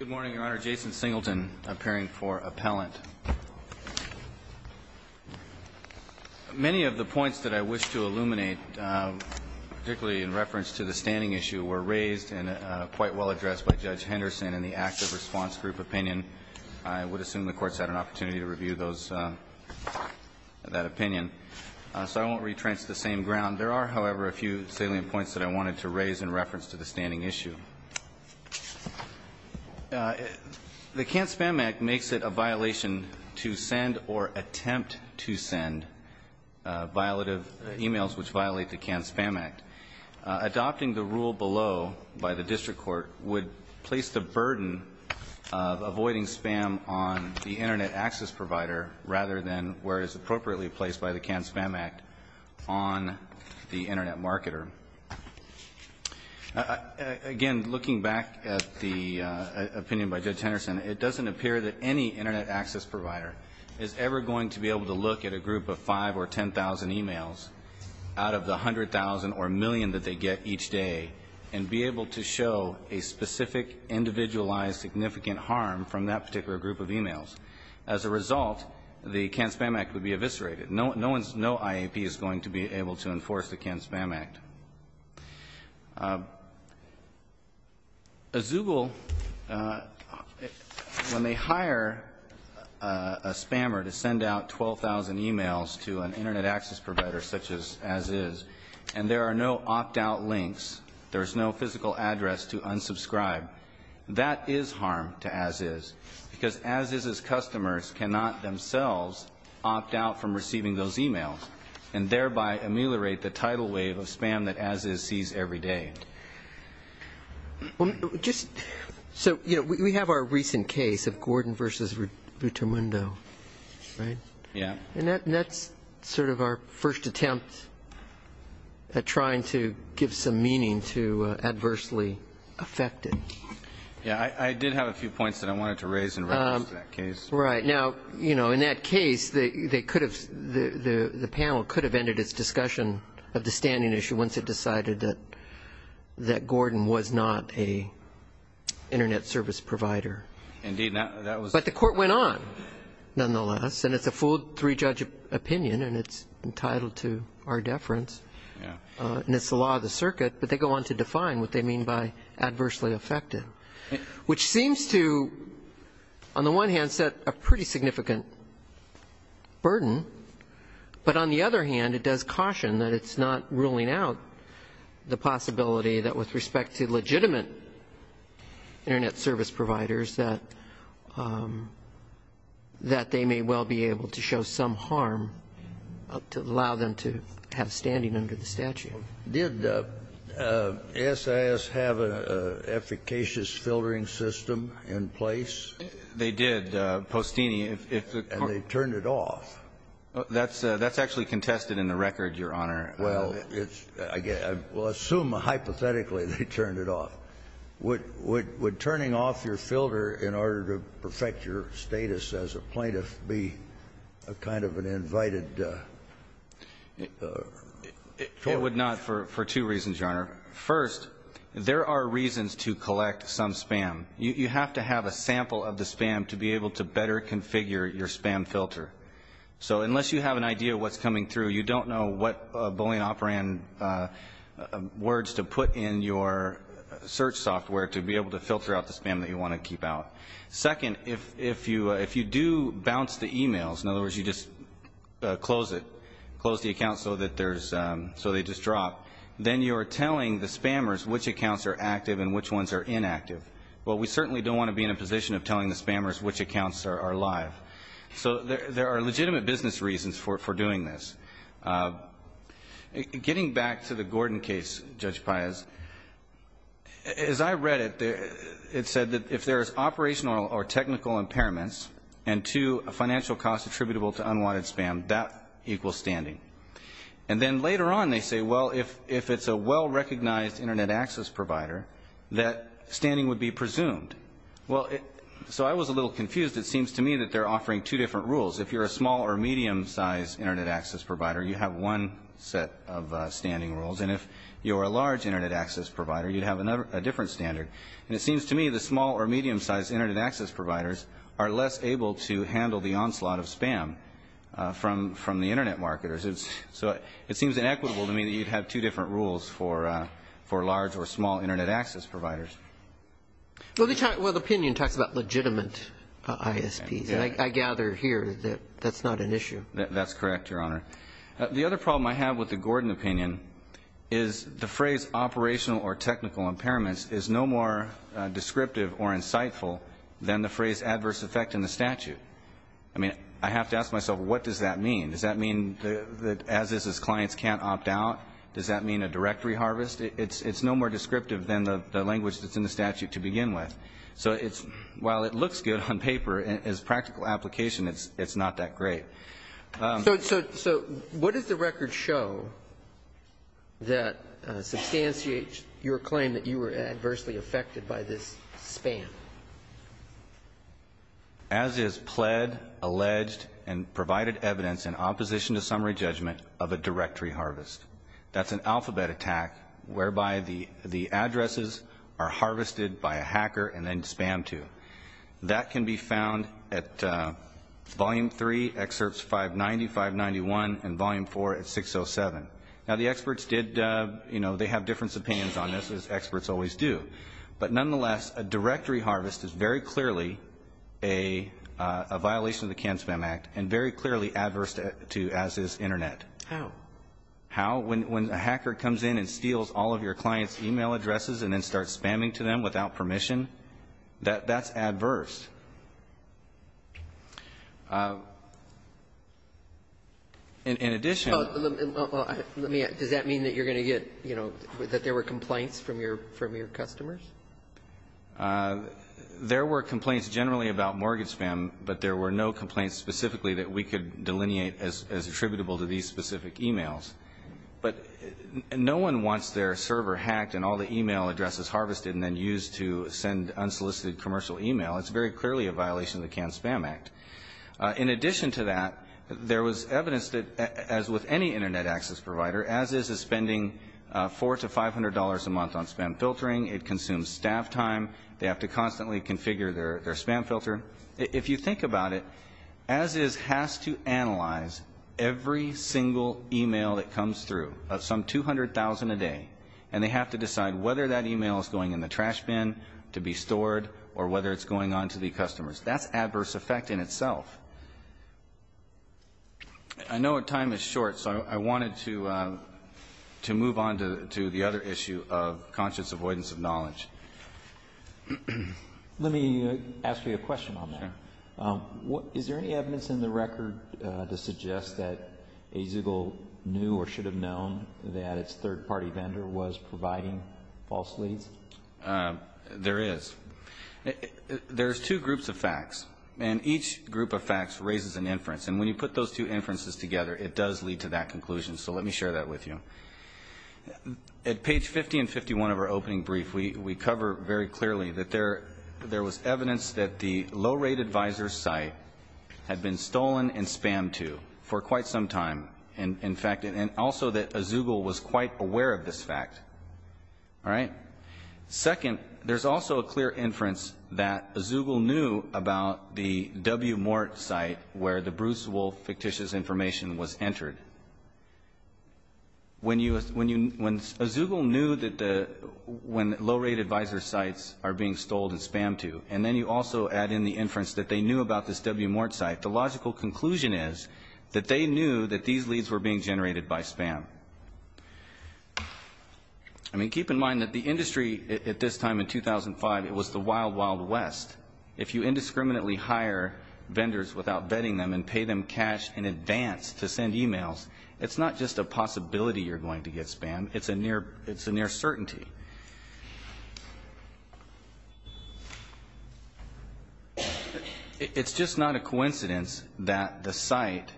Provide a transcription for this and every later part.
Good morning, Your Honor. Jason Singleton, appearing for appellant. Many of the points that I wish to illuminate, particularly in reference to the standing issue, were raised and quite well addressed by Judge Henderson in the active response group opinion. I would assume the Court's had an opportunity to review that opinion, so I won't retrench the same ground. There are, however, a few salient points that I wanted to raise in reference to the standing issue. The Canned Spam Act makes it a violation to send or attempt to send emails which violate the Canned Spam Act. Adopting the rule below by the District Court would place the burden of avoiding spam on the Internet access provider rather than where it is appropriately placed by the Canned Spam Act on the Internet marketer. Again, looking back at the opinion by Judge Henderson, it doesn't appear that any Internet access provider is ever going to be able to look at a group of 5,000 or 10,000 emails out of the 100,000 or million that they get each day and be able to show a specific, individualized, significant harm from that particular group of emails. As a result, the Canned Spam Act would be eviscerated. No IAP is going to be able to enforce the Canned Spam Act. Azugul, when they hire a spammer to send out 12,000 emails to an Internet access provider such as Aziz, and there are no opt-out links, there's no physical address to unsubscribe, that is harm to Aziz because Aziz's customers cannot themselves opt out from receiving those emails and thereby ameliorate the tidal wave of spam that Aziz sees every day. So we have our recent case of Gordon v. Buttermundo, right? Yeah. And that's sort of our first attempt at trying to give some meaning to adversely affected. Yeah, I did have a few points that I wanted to raise in reference to that case. Right. Now, you know, in that case, the panel could have ended its discussion of the standing issue once it decided that Gordon was not an Internet service provider. Indeed, that was But the court went on, nonetheless, and it's a full three-judge opinion, and it's entitled to our deference. Yeah. And it's the law of the circuit, but they go on to define what they mean by adversely affected, which seems to, on the one hand, set a pretty significant burden. But on the other hand, it does caution that it's not ruling out the possibility that with respect to legitimate Internet service providers, that they may well be able to show some harm to allow them to have standing under the statute. Did SIS have an efficacious filtering system in place? They did, Postini. And they turned it off. That's actually contested in the record, Your Honor. Well, I will assume, hypothetically, they turned it off. Would turning off your filter in order to perfect your status as a plaintiff be a kind of an invited tool? It would not for two reasons, Your Honor. First, there are reasons to collect some spam. You have to have a sample of the spam to be able to better configure your spam filter. So unless you have an idea of what's coming through, you don't know what Boolean operand words to put in your search software to be able to filter out the spam that you want to keep out. Second, if you do bounce the e-mails, in other words, you just close it, so they just drop, then you're telling the spammers which accounts are active and which ones are inactive. Well, we certainly don't want to be in a position of telling the spammers which accounts are live. So there are legitimate business reasons for doing this. Getting back to the Gordon case, Judge Payaz, as I read it, it said that if there is operational or technical impairments, and, two, and then later on they say, well, if it's a well-recognized Internet access provider, that standing would be presumed. Well, so I was a little confused. It seems to me that they're offering two different rules. If you're a small or medium-sized Internet access provider, you have one set of standing rules. And if you're a large Internet access provider, you'd have a different standard. And it seems to me the small or medium-sized Internet access providers are less able to handle the onslaught of spam from the Internet marketers. So it seems inequitable to me that you'd have two different rules for large or small Internet access providers. Well, the opinion talks about legitimate ISPs, and I gather here that that's not an issue. That's correct, Your Honor. The other problem I have with the Gordon opinion is the phrase operational or technical impairments is no more descriptive or insightful than the phrase adverse effect in the statute. I mean, I have to ask myself, what does that mean? Does that mean that as-is clients can't opt out? Does that mean a directory harvest? It's no more descriptive than the language that's in the statute to begin with. So while it looks good on paper, as practical application, it's not that great. So what does the record show that substantiates your claim that you were adversely affected by this spam? As-is pled, alleged, and provided evidence in opposition to summary judgment of a directory harvest. That's an alphabet attack whereby the addresses are harvested by a hacker and then spammed to. That can be found at Volume 3, Excerpts 590, 591, and Volume 4 at 607. Now, the experts did, you know, they have different opinions on this, as experts always do. But nonetheless, a directory harvest is very clearly a violation of the Can-Spam Act and very clearly adverse to as-is Internet. How? How? When a hacker comes in and steals all of your client's e-mail addresses and then starts spamming to them without permission, that's adverse. In addition to that. Does that mean that you're going to get, you know, that there were complaints from your customers? There were complaints generally about mortgage spam, but there were no complaints specifically that we could delineate as attributable to these specific e-mails. But no one wants their server hacked and all the e-mail addresses harvested and then used to send unsolicited commercial e-mail. It's very clearly a violation of the Can-Spam Act. In addition to that, there was evidence that, as with any Internet access provider, as-is is spending $400 to $500 a month on spam filtering. It consumes staff time. They have to constantly configure their spam filter. If you think about it, as-is has to analyze every single e-mail that comes through of some 200,000 a day, and they have to decide whether that e-mail is going in the trash bin to be stored or whether it's going on to the customers. That's adverse effect in itself. I know our time is short, so I wanted to move on to the other issue of conscious avoidance of knowledge. Let me ask you a question on that. Sure. Is there any evidence in the record to suggest that Azegel knew or should have known that its third-party vendor was providing false leads? There is. There's two groups of facts, and each group of facts raises an inference, and when you put those two inferences together, it does lead to that conclusion, so let me share that with you. At page 50 and 51 of our opening brief, we cover very clearly that there was evidence that the low-rate advisor's site had been stolen and spammed to for quite some time, in fact, and also that Azegel was quite aware of this fact. All right? Second, there's also a clear inference that Azegel knew about the W-Mort site where the Bruce Wolf fictitious information was entered. When Azegel knew that the low-rate advisor's sites are being stolen and spammed to, and then you also add in the inference that they knew about this W-Mort site, the logical conclusion is that they knew that these leads were being generated by spam. I mean, keep in mind that the industry at this time in 2005, it was the wild, wild west. If you indiscriminately hire vendors without vetting them and pay them cash in advance to send e-mails, it's not just a possibility you're going to get spammed, it's a near certainty. It's just not a coincidence that the site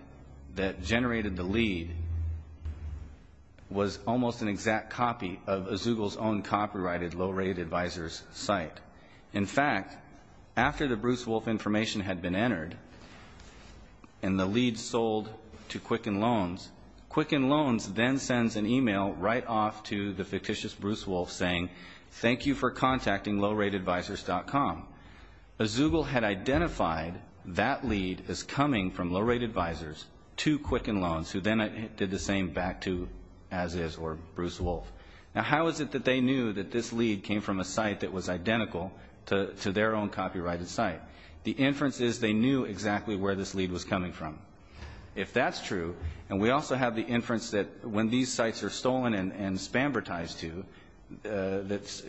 that generated the lead was almost an exact copy of Azegel's own copyrighted low-rate advisor's site. In fact, after the Bruce Wolf information had been entered and the lead sold to Quicken Loans, Quicken Loans then sends an e-mail right off to the fictitious Bruce Wolf, saying, thank you for contacting lowratedvisors.com. Azegel had identified that lead as coming from low-rate advisors to Quicken Loans, who then did the same back to As-Is or Bruce Wolf. Now, how is it that they knew that this lead came from a site that was identical to their own copyrighted site? The inference is they knew exactly where this lead was coming from. If that's true, and we also have the inference that when these sites are stolen and spambertized to, that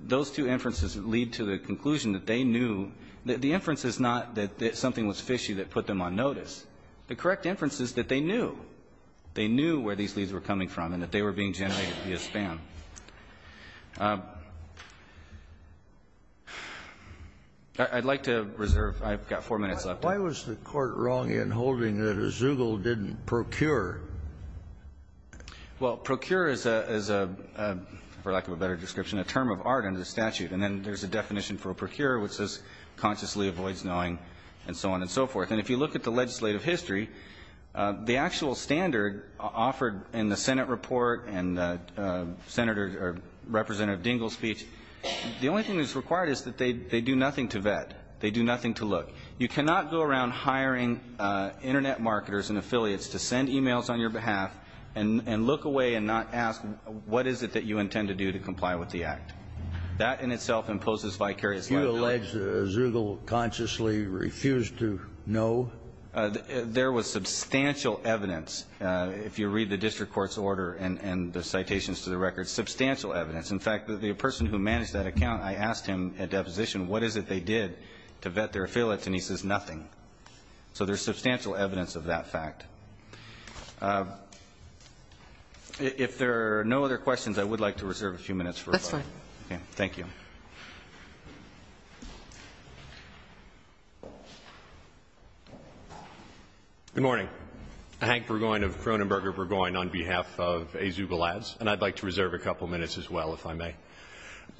those two inferences lead to the conclusion that they knew the inference is not that something was fishy that put them on notice. The correct inference is that they knew. They knew where these leads were coming from and that they were being generated via spam. I'd like to reserve. I've got four minutes left. Why was the court wrong in holding that Azegel didn't procure? Well, procure is a, for lack of a better description, a term of art under the statute. And then there's a definition for a procure, which says consciously avoids knowing and so on and so forth. And if you look at the legislative history, the actual standard offered in the Senate report and Senator or Representative Dingell's speech, the only thing that's required is that they do nothing to vet. They do nothing to look. You cannot go around hiring Internet marketers and affiliates to send e-mails on your behalf and look away and not ask what is it that you intend to do to comply with the act. That in itself imposes vicarious liability. You allege Azegel consciously refused to know? There was substantial evidence, if you read the district court's order and the citations to the record, substantial evidence. In fact, the person who managed that account, I asked him at deposition what is it they did to vet their affiliates, and he says nothing. So there's substantial evidence of that fact. If there are no other questions, I would like to reserve a few minutes for rebuttal. Yes, sir. Thank you. Good morning. Hank Burgoyne of Cronenberger Burgoyne on behalf of Azugel Ads. And I'd like to reserve a couple minutes as well, if I may.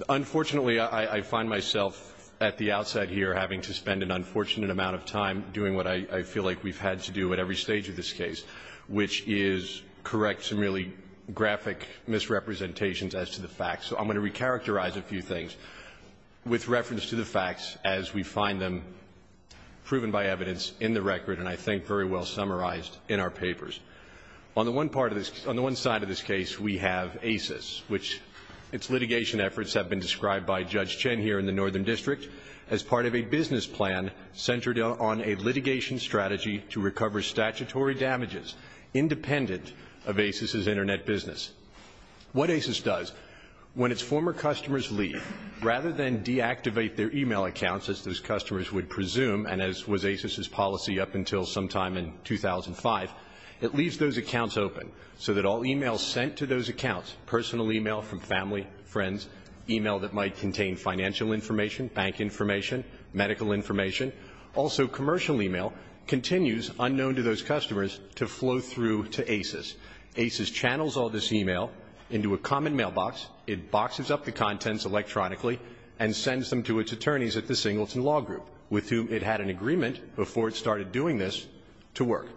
Unfortunately, I find myself at the outside here having to spend an unfortunate amount of time doing what I feel like we've had to do at every stage of this case, which is correct some really graphic misrepresentations as to the facts. So I'm going to recharacterize a few things with reference to the facts as we find them proven by evidence in the record and I think very well summarized in our papers. On the one side of this case, we have ACES, which its litigation efforts have been described by Judge Chen here in the Northern District as part of a business plan centered on a litigation strategy to recover statutory damages independent of ACES' Internet business. What ACES does, when its former customers leave, rather than deactivate their e-mail accounts, as those customers would presume and as was ACES' policy up until sometime in 2005, it leaves those accounts open so that all e-mails sent to those accounts, personal e-mail from family, friends, e-mail that might contain financial information, bank information, medical information, also commercial e-mail, continues, unknown to those customers, to flow through to ACES. ACES channels all this e-mail into a common mailbox. It boxes up the contents electronically and sends them to its attorneys at the Singleton Law Group, with whom it had an agreement before it started doing this, to work.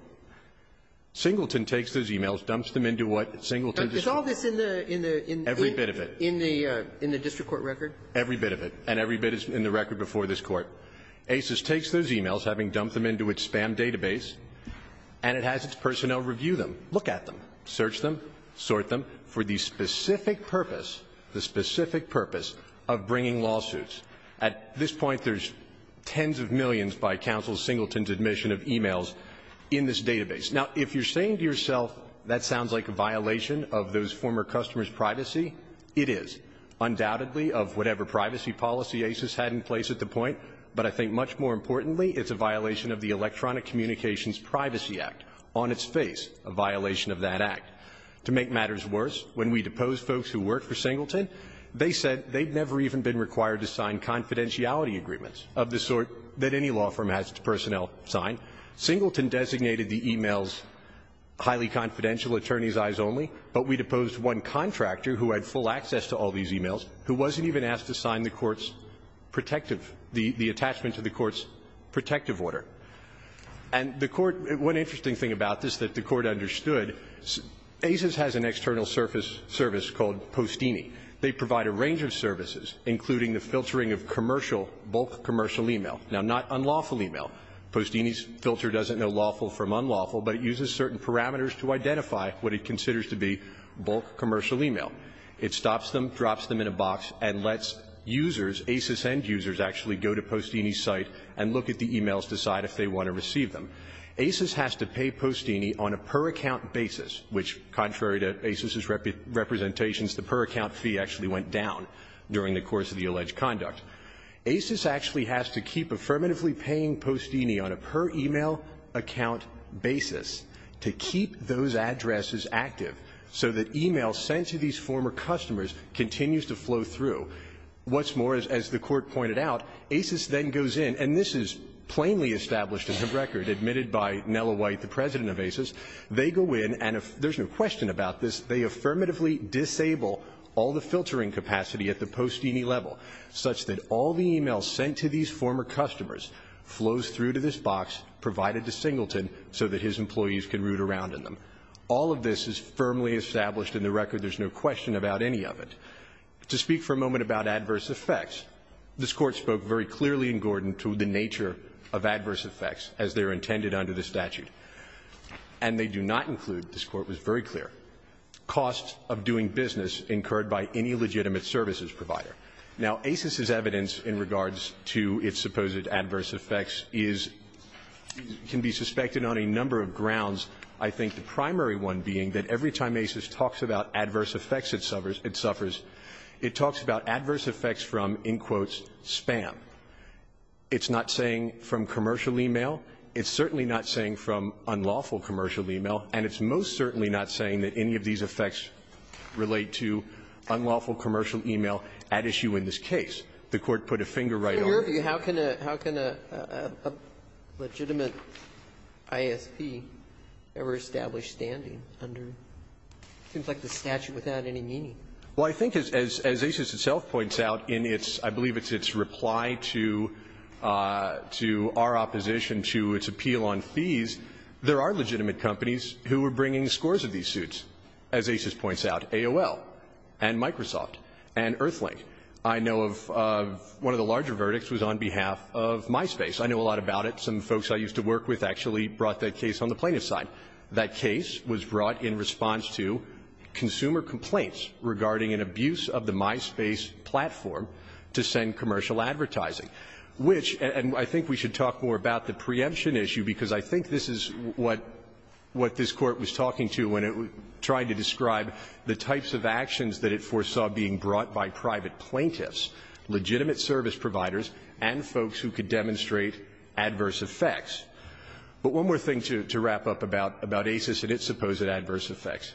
Singleton takes those e-mails, dumps them into what Singleton does not do. Sotomayor. Every bit of it. In the district court record? Every bit of it. And every bit is in the record before this Court. ACES takes those e-mails, having dumped them into its spam database, and it has its personnel review them, look at them, search them, sort them, for the specific purpose, the specific purpose of bringing lawsuits. At this point, there's tens of millions by counsel Singleton's admission of e-mails in this database. Now, if you're saying to yourself that sounds like a violation of those former customers' privacy, it is, undoubtedly, of whatever privacy policy ACES had in place at the point. But I think much more importantly, it's a violation of the Electronic Communications Privacy Act. On its face, a violation of that act. To make matters worse, when we deposed folks who worked for Singleton, they said they'd never even been required to sign confidentiality agreements of the sort that any law firm has its personnel sign. Singleton designated the e-mails highly confidential, attorney's eyes only, but we deposed one contractor who had full access to all these e-mails who wasn't even asked to sign the court's protective the attachment to the court's protective order. And the court one interesting thing about this that the court understood, ACES has an external service called Postini. They provide a range of services, including the filtering of commercial, bulk commercial e-mail, now, not unlawful e-mail. Postini's filter doesn't know lawful from unlawful, but it uses certain parameters to identify what it considers to be bulk commercial e-mail. It stops them, drops them in a box, and lets users, ACES end users, actually go to Postini's site and look at the e-mails, decide if they want to receive them. ACES has to pay Postini on a per-account basis, which, contrary to ACES's representations, the per-account fee actually went down during the course of the alleged conduct. ACES actually has to keep affirmatively paying Postini on a per-email-account basis to keep those addresses active, so that e-mail sent to these former customers continues to flow through. What's more, as the Court pointed out, ACES then goes in, and this is plainly established as a record, admitted by Nella White, the president of ACES, they go in and if there's no question about this, they affirmatively disable all the filtering capacity at the Postini level, such that all the e-mails sent to these former customers flows through to this box, provided to Singleton, so that his employees can root around in them. All of this is firmly established in the record. There's no question about any of it. To speak for a moment about adverse effects, this Court spoke very clearly in Gordon to the nature of adverse effects as they are intended under the statute. And they do not include, this Court was very clear, costs of doing business incurred by any legitimate services provider. Now, ACES's evidence in regards to its supposed adverse effects is can be suspected on a number of grounds, I think the primary one being that every time ACES talks about adverse effects it suffers, it talks about adverse effects from, in quotes, spam. It's not saying from commercial e-mail. It's certainly not saying from unlawful commercial e-mail. And it's most certainly not saying that any of these effects relate to unlawful commercial e-mail at issue in this case. The Court put a finger right on it. Sotomayor, how can a legitimate ISP ever establish standing under, it seems like the statute without any meaning. Well, I think as ACES itself points out in its, I believe it's its reply to our opposition to its appeal on fees, there are legitimate companies who are bringing scores of these suits, as ACES points out, AOL and Microsoft and Earthlink. I know of one of the larger verdicts was on behalf of MySpace. I know a lot about it. Some folks I used to work with actually brought that case on the plaintiff's side. That case was brought in response to consumer complaints regarding an abuse of the MySpace platform to send commercial advertising, which, and I think we should talk more about the preemption issue, because I think this is what this Court was talking to when it tried to describe the types of actions that it foresaw being brought by private plaintiffs, legitimate service providers, and folks who could demonstrate adverse effects. But one more thing to wrap up about ACES and its supposed adverse effects.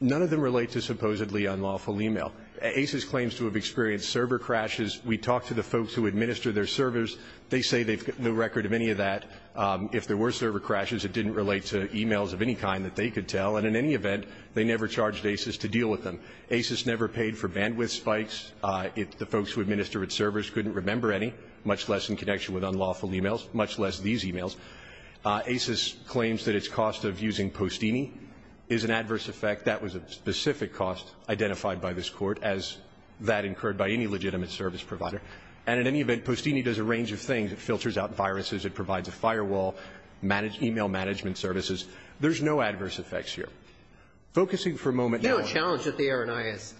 None of them relate to supposedly unlawful email. ACES claims to have experienced server crashes. We talked to the folks who administer their servers. They say they've got no record of any of that. If there were server crashes, it didn't relate to emails of any kind that they could tell, and in any event, they never charged ACES to deal with them. ACES never paid for bandwidth spikes. The folks who administer its servers couldn't remember any, much less in connection with unlawful emails, much less these emails. ACES claims that its cost of using Postini is an adverse effect. That was a specific cost identified by this Court, as that incurred by any legitimate service provider. And in any event, Postini does a range of things. It filters out viruses. It provides a firewall, e-mail management services. There's no adverse effects here. Focusing for a moment now on the other one. Roberts,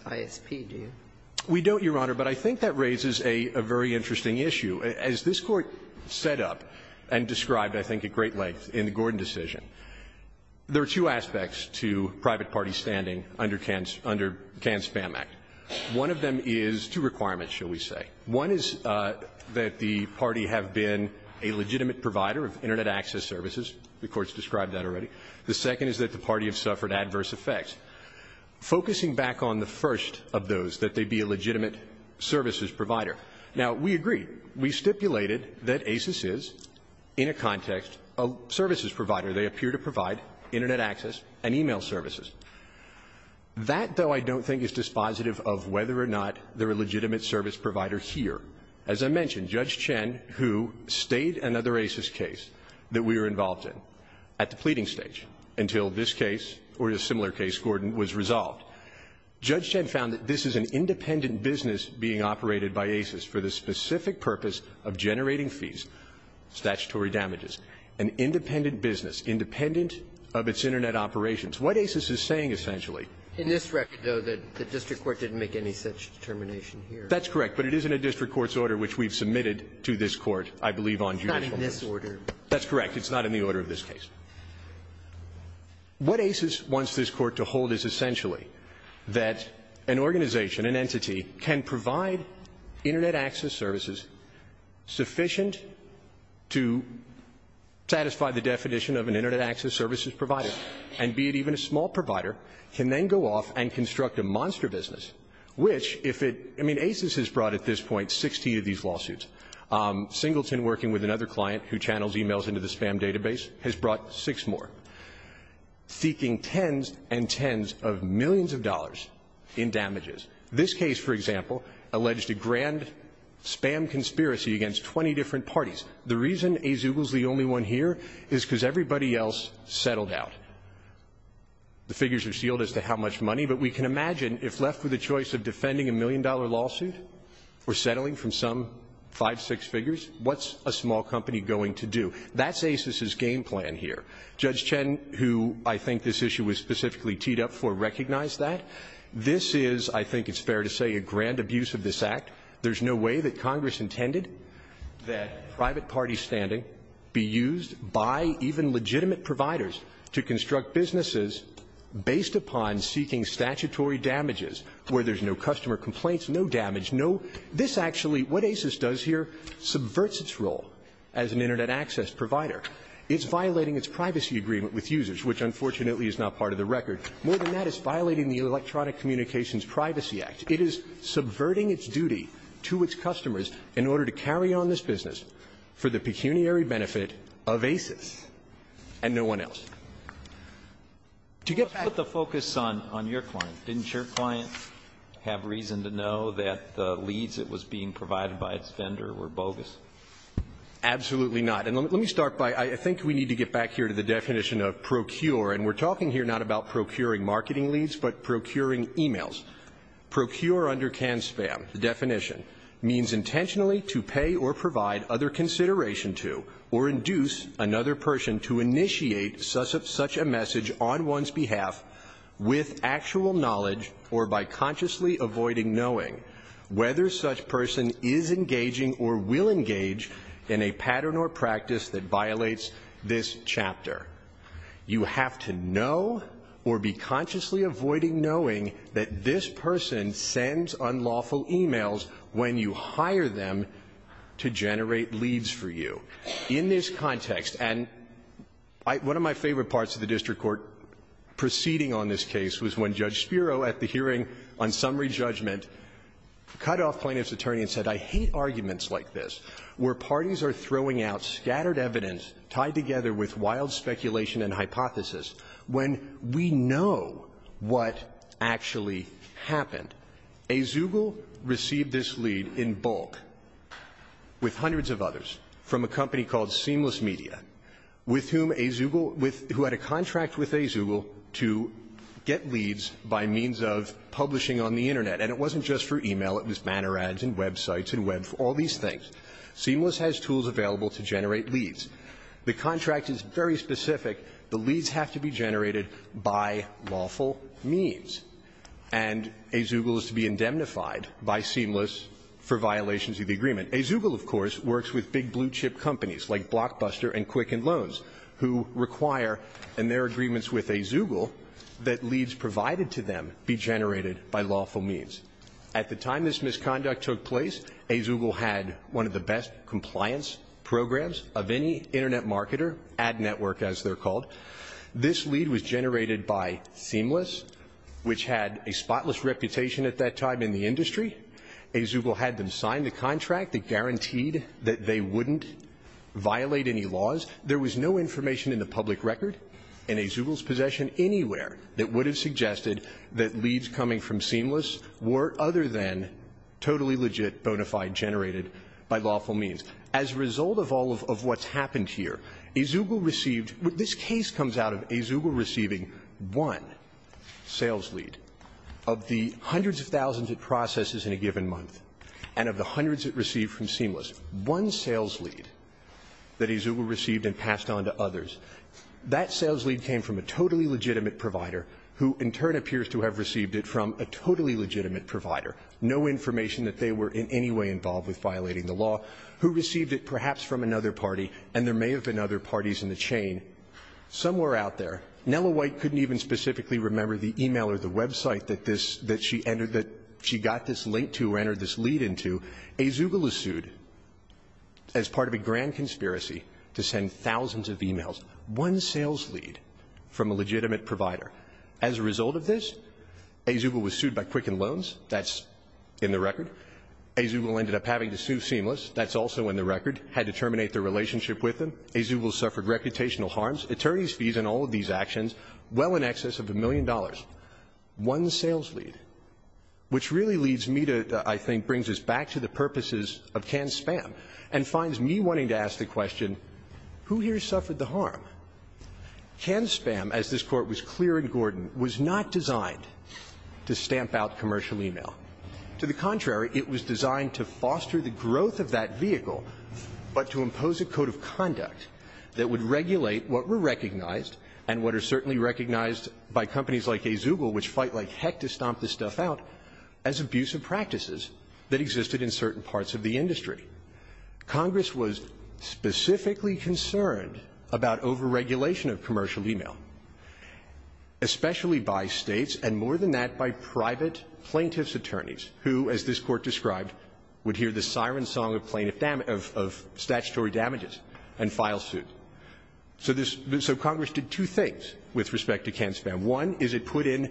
we don't, Your Honor, but I think that raises a very interesting issue. As this Court set up and described, I think, at great length in the Gordon decision, there are two aspects to private parties standing under Can Spam Act. One of them is two requirements, shall we say. One is that the party have been a legitimate provider of Internet access services. The Court's described that already. The second is that the party have suffered adverse effects. Focusing back on the first of those, that they be a legitimate services provider. Now, we agree. We stipulated that ACES is, in a context, a services provider. They appear to provide Internet access and e-mail services. That, though, I don't think is dispositive of whether or not they're a legitimate service provider here. As I mentioned, Judge Chen, who stayed another ACES case that we were involved in at the pleading stage until this case or a similar case, Gordon, was resolved. Judge Chen found that this is an independent business being operated by ACES for the specific purpose of generating fees, statutory damages, an independent business, independent of its Internet operations. What ACES is saying, essentially — In this record, though, the district court didn't make any such determination here. That's correct. But it is in a district court's order, which we've submitted to this Court, I believe, on judicial issues. It's not in this order. That's correct. It's not in the order of this case. What ACES wants this Court to hold is, essentially, that an organization, an entity, can provide Internet access services sufficient to satisfy the definition of an Internet access services provider, and be it even a small provider, can then go off and construct a monster business, which, if it — I mean, ACES has brought at this point 60 of these lawsuits. Singleton, working with another client who channels e-mails into the spam database, has brought six more, seeking tens and tens of millions of dollars in damages This case, for example, alleged a grand spam conspiracy against 20 different parties. The reason Azugel's the only one here is because everybody else settled out. The figures are sealed as to how much money, but we can imagine, if left with a choice of defending a million-dollar lawsuit or settling from some five, six figures, what's a small company going to do? That's ACES's game plan here. Judge Chen, who I think this issue was specifically teed up for, recognized that. This is, I think it's fair to say, a grand abuse of this Act. There's no way that Congress intended that private party standing be used by even legitimate providers to construct businesses based upon seeking statutory damages, where there's no customer complaints, no damage, no — this actually, what ACES does here, subverts its role as an Internet access provider. It's violating its privacy agreement with users, which, unfortunately, is not part of the record. More than that, it's violating the Electronic Communications Privacy Act. It is subverting its duty to its customers in order to carry on this business for the pecuniary benefit of ACES and no one else. To get back to the focus on your client, didn't your client have reason to know that the leads that was being provided by its vendor were bogus? Absolutely not. And let me start by, I think we need to get back here to the definition of procure. And we're talking here not about procuring marketing leads, but procuring emails. Procure under CAN-SPAM, the definition, means intentionally to pay or provide other consideration to or induce another person to initiate such a message on one's behalf with actual knowledge or by consciously avoiding knowing whether such person is engaging or will engage in a pattern or practice that violates this chapter. You have to know or be consciously avoiding knowing that this person sends unlawful emails when you hire them to generate leads for you. In this context, and one of my favorite parts of the district court proceeding on this case was when Judge Spiro, at the hearing on summary judgment, cut off plaintiff's attorney and said, I hate arguments like this, where parties are throwing out scattered evidence tied together with wild speculation and hypothesis when we know what actually happened. Azugel received this lead in bulk with hundreds of others from a company called Seamless Media, with whom Azugel, with who had a contract with Azugel to get leads by means of publishing on the Internet. And it wasn't just for email, it was banner ads and websites and web, all these things. Seamless has tools available to generate leads. The contract is very specific. The leads have to be generated by lawful means. And Azugel is to be indemnified by Seamless for violations of the agreement. Azugel, of course, works with big blue chip companies like Blockbuster and Quicken Loans, who require in their agreements with Azugel that leads provided to them be generated by lawful means. At the time this misconduct took place, Azugel had one of the best compliance programs of any Internet marketer, ad network as they're called. This lead was generated by Seamless, which had a spotless reputation at that time in the industry. Azugel had them sign the contract that guaranteed that they wouldn't violate any laws. There was no information in the public record in Azugel's possession anywhere that would have suggested that leads coming from Seamless were other than totally legit, bona fide, generated by lawful means. As a result of all of what's happened here, Azugel received – this case comes out of Azugel receiving one sales lead of the hundreds of thousands it processes in a given month and of the hundreds it received from Seamless. One sales lead that Azugel received and passed on to others. That sales lead came from a totally legitimate provider who in turn appears to have received it from a totally legitimate provider. No information that they were in any way involved with violating the law. Who received it perhaps from another party, and there may have been other parties in the chain. Somewhere out there, Nella White couldn't even specifically remember the e-mail or the website that this – that she entered – that she got this link to or entered this lead into. One sales lead from a legitimate provider. As a result of this, Azugel was sued by Quicken Loans. That's in the record. Azugel ended up having to sue Seamless. That's also in the record. Had to terminate their relationship with them. Azugel suffered reputational harms. Attorneys fees in all of these actions. Well in excess of a million dollars. One sales lead. Which really leads me to – I think brings us back to the purposes of canned spam and finds me wanting to ask the question, who here suffered the harm? Canned spam, as this Court was clear in Gordon, was not designed to stamp out commercial e-mail. To the contrary, it was designed to foster the growth of that vehicle, but to impose a code of conduct that would regulate what were recognized and what are certainly recognized by companies like Azugel, which fight like heck to stomp this stuff out, as abusive practices that existed in certain parts of the industry. Congress was specifically concerned about over-regulation of commercial e-mail, especially by States and more than that by private plaintiff's attorneys, who, as this Court described, would hear the siren song of plaintiff – of statutory damages and file suit. So this – so Congress did two things with respect to canned spam. One is it put in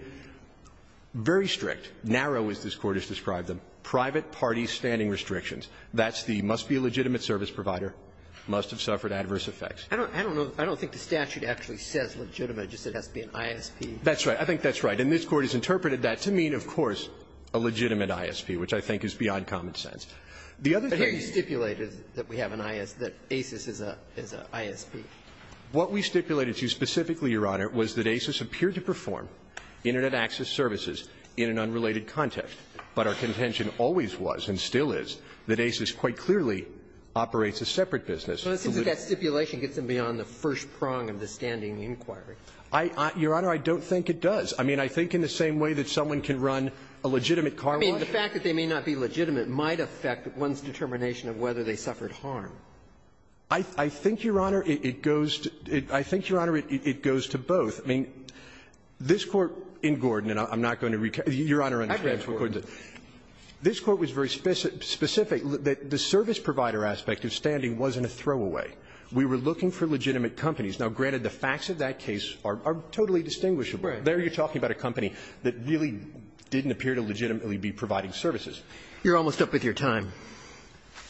very strict, narrow as this Court has described them, private party standing restrictions. That's the must be a legitimate service provider, must have suffered adverse effects. I don't – I don't know – I don't think the statute actually says legitimate, just that it has to be an ISP. That's right. I think that's right. And this Court has interpreted that to mean, of course, a legitimate ISP, which I think is beyond common sense. The other thing – But here you stipulated that we have an IS – that ASIS is a – is a ISP. What we stipulated to you specifically, Your Honor, was that ASIS appeared to perform Internet access services in an unrelated context, but our contention always was, and still is, that ASIS quite clearly operates a separate business. So the – Well, it seems that that stipulation gets them beyond the first prong of the standing inquiry. I – I – Your Honor, I don't think it does. I mean, I think in the same way that someone can run a legitimate car wash – I mean, the fact that they may not be legitimate might affect one's determination of whether they suffered harm. I – I think, Your Honor, it goes to – I think, Your Honor, it – it goes to both. I mean, this Court in Gordon, and I'm not going to recap – Your Honor, under this Court, this Court was very specific – specific that the service provider aspect of standing wasn't a throwaway. We were looking for legitimate companies. Now, granted, the facts of that case are – are totally distinguishable. Right. There you're talking about a company that really didn't appear to legitimately be providing services. You're almost up with your time.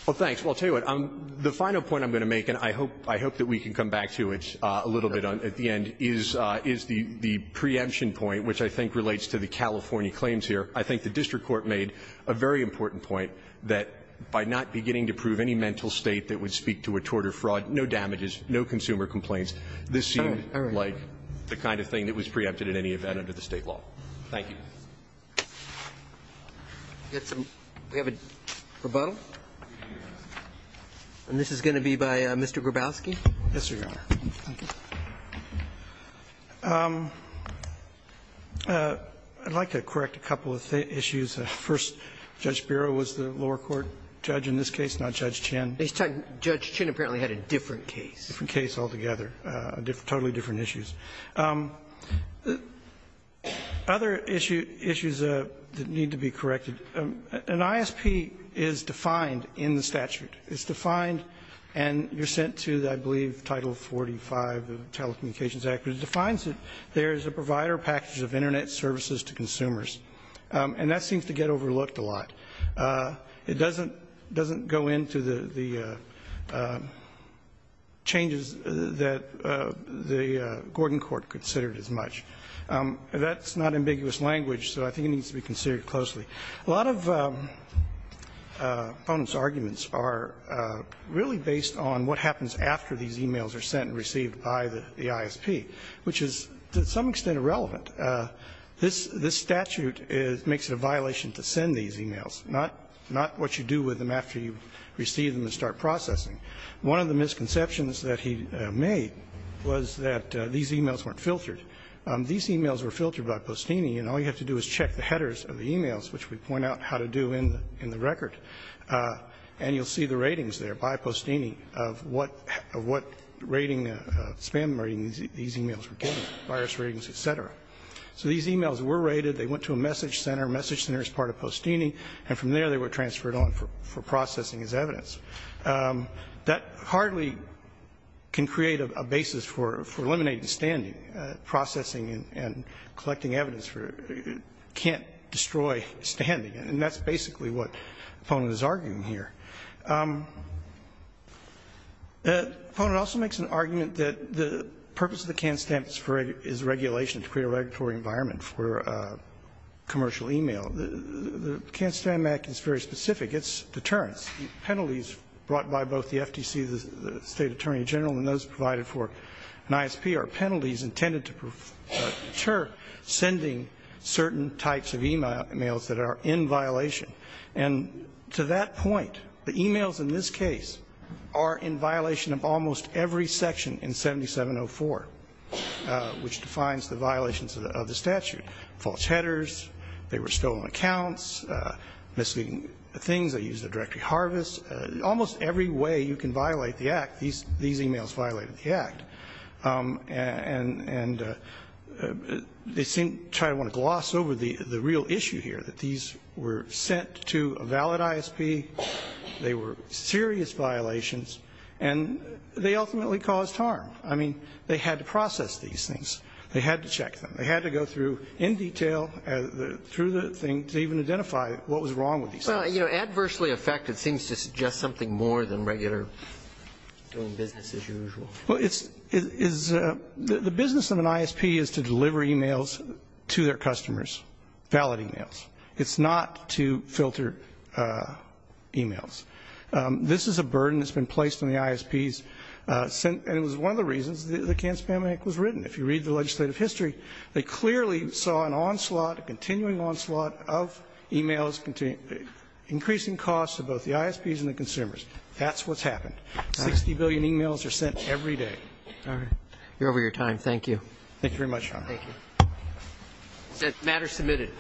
Well, thanks. Well, I'll tell you what. The final point I'm going to make, and I hope – I hope that we can come back to it a little bit at the end, is – is the – the preemption point, which I think relates to the California claims here. I think the district court made a very important point that, by not beginning to prove any mental state that would speak to a tort or fraud, no damages, no consumer complaints, this seemed like the kind of thing that was preempted in any event under the State law. Thank you. We have a rebuttal. And this is going to be by Mr. Grabowski. Yes, Your Honor. Thank you. I'd like to correct a couple of issues. First, Judge Biro was the lower court judge in this case, not Judge Chinn. Judge Chinn apparently had a different case. Different case altogether. Totally different issues. Other issue – issues that need to be corrected. An ISP is defined in the statute. It's defined, and you're sent to, I believe, Title 45 of the Telecommunications Act, which defines it. There's a provider package of Internet services to consumers. And that seems to get overlooked a lot. It doesn't – doesn't go into the – the changes that the Gordon court considered as much. That's not ambiguous language, so I think it needs to be considered closely. A lot of opponents' arguments are really based on what happens after these emails are sent and received by the ISP, which is to some extent irrelevant. This – this statute is – makes it a violation to send these emails, not – not what you do with them after you receive them and start processing. One of the misconceptions that he made was that these emails weren't filtered. These emails were filtered by Postini, and all you have to do is check the headers of the emails, which we point out how to do in the – in the record, and you'll see the ratings there by Postini of what – of what rating – spam rating these emails were getting, virus ratings, et cetera. So these emails were rated. They went to a message center. Message center is part of Postini. And from there, they were transferred on for processing as evidence. That hardly can create a basis for – for eliminating standing. Processing and collecting evidence for – can't destroy standing. And that's basically what the opponent is arguing here. The opponent also makes an argument that the purpose of the Can-Stamp is regulation to create a regulatory environment for commercial email. The Can-Stamp Act is very specific. It's deterrence. Penalties brought by both the FTC, the State Attorney General, and those provided for an intended to deter sending certain types of emails that are in violation. And to that point, the emails in this case are in violation of almost every section in 7704, which defines the violations of the statute. False headers. They were stolen accounts. Misleading things. They used a directory harvest. Almost every way you can violate the Act, these emails violated the Act. And they seem to try to want to gloss over the real issue here, that these were sent to a valid ISP. They were serious violations. And they ultimately caused harm. I mean, they had to process these things. They had to check them. They had to go through in detail, through the thing, to even identify what was wrong with these things. Well, you know, adversely affected seems to suggest something more than regular doing business as usual. Well, the business of an ISP is to deliver emails to their customers. Valid emails. It's not to filter emails. This is a burden that's been placed on the ISPs. And it was one of the reasons the Can-Spam Act was written. If you read the legislative history, they clearly saw an onslaught, a continuing onslaught of emails, increasing costs to both the ISPs and the consumers. That's what's happened. Sixty billion emails are sent every day. All right. You're over your time. Thank you. Thank you very much, Your Honor. Thank you. Matter submitted.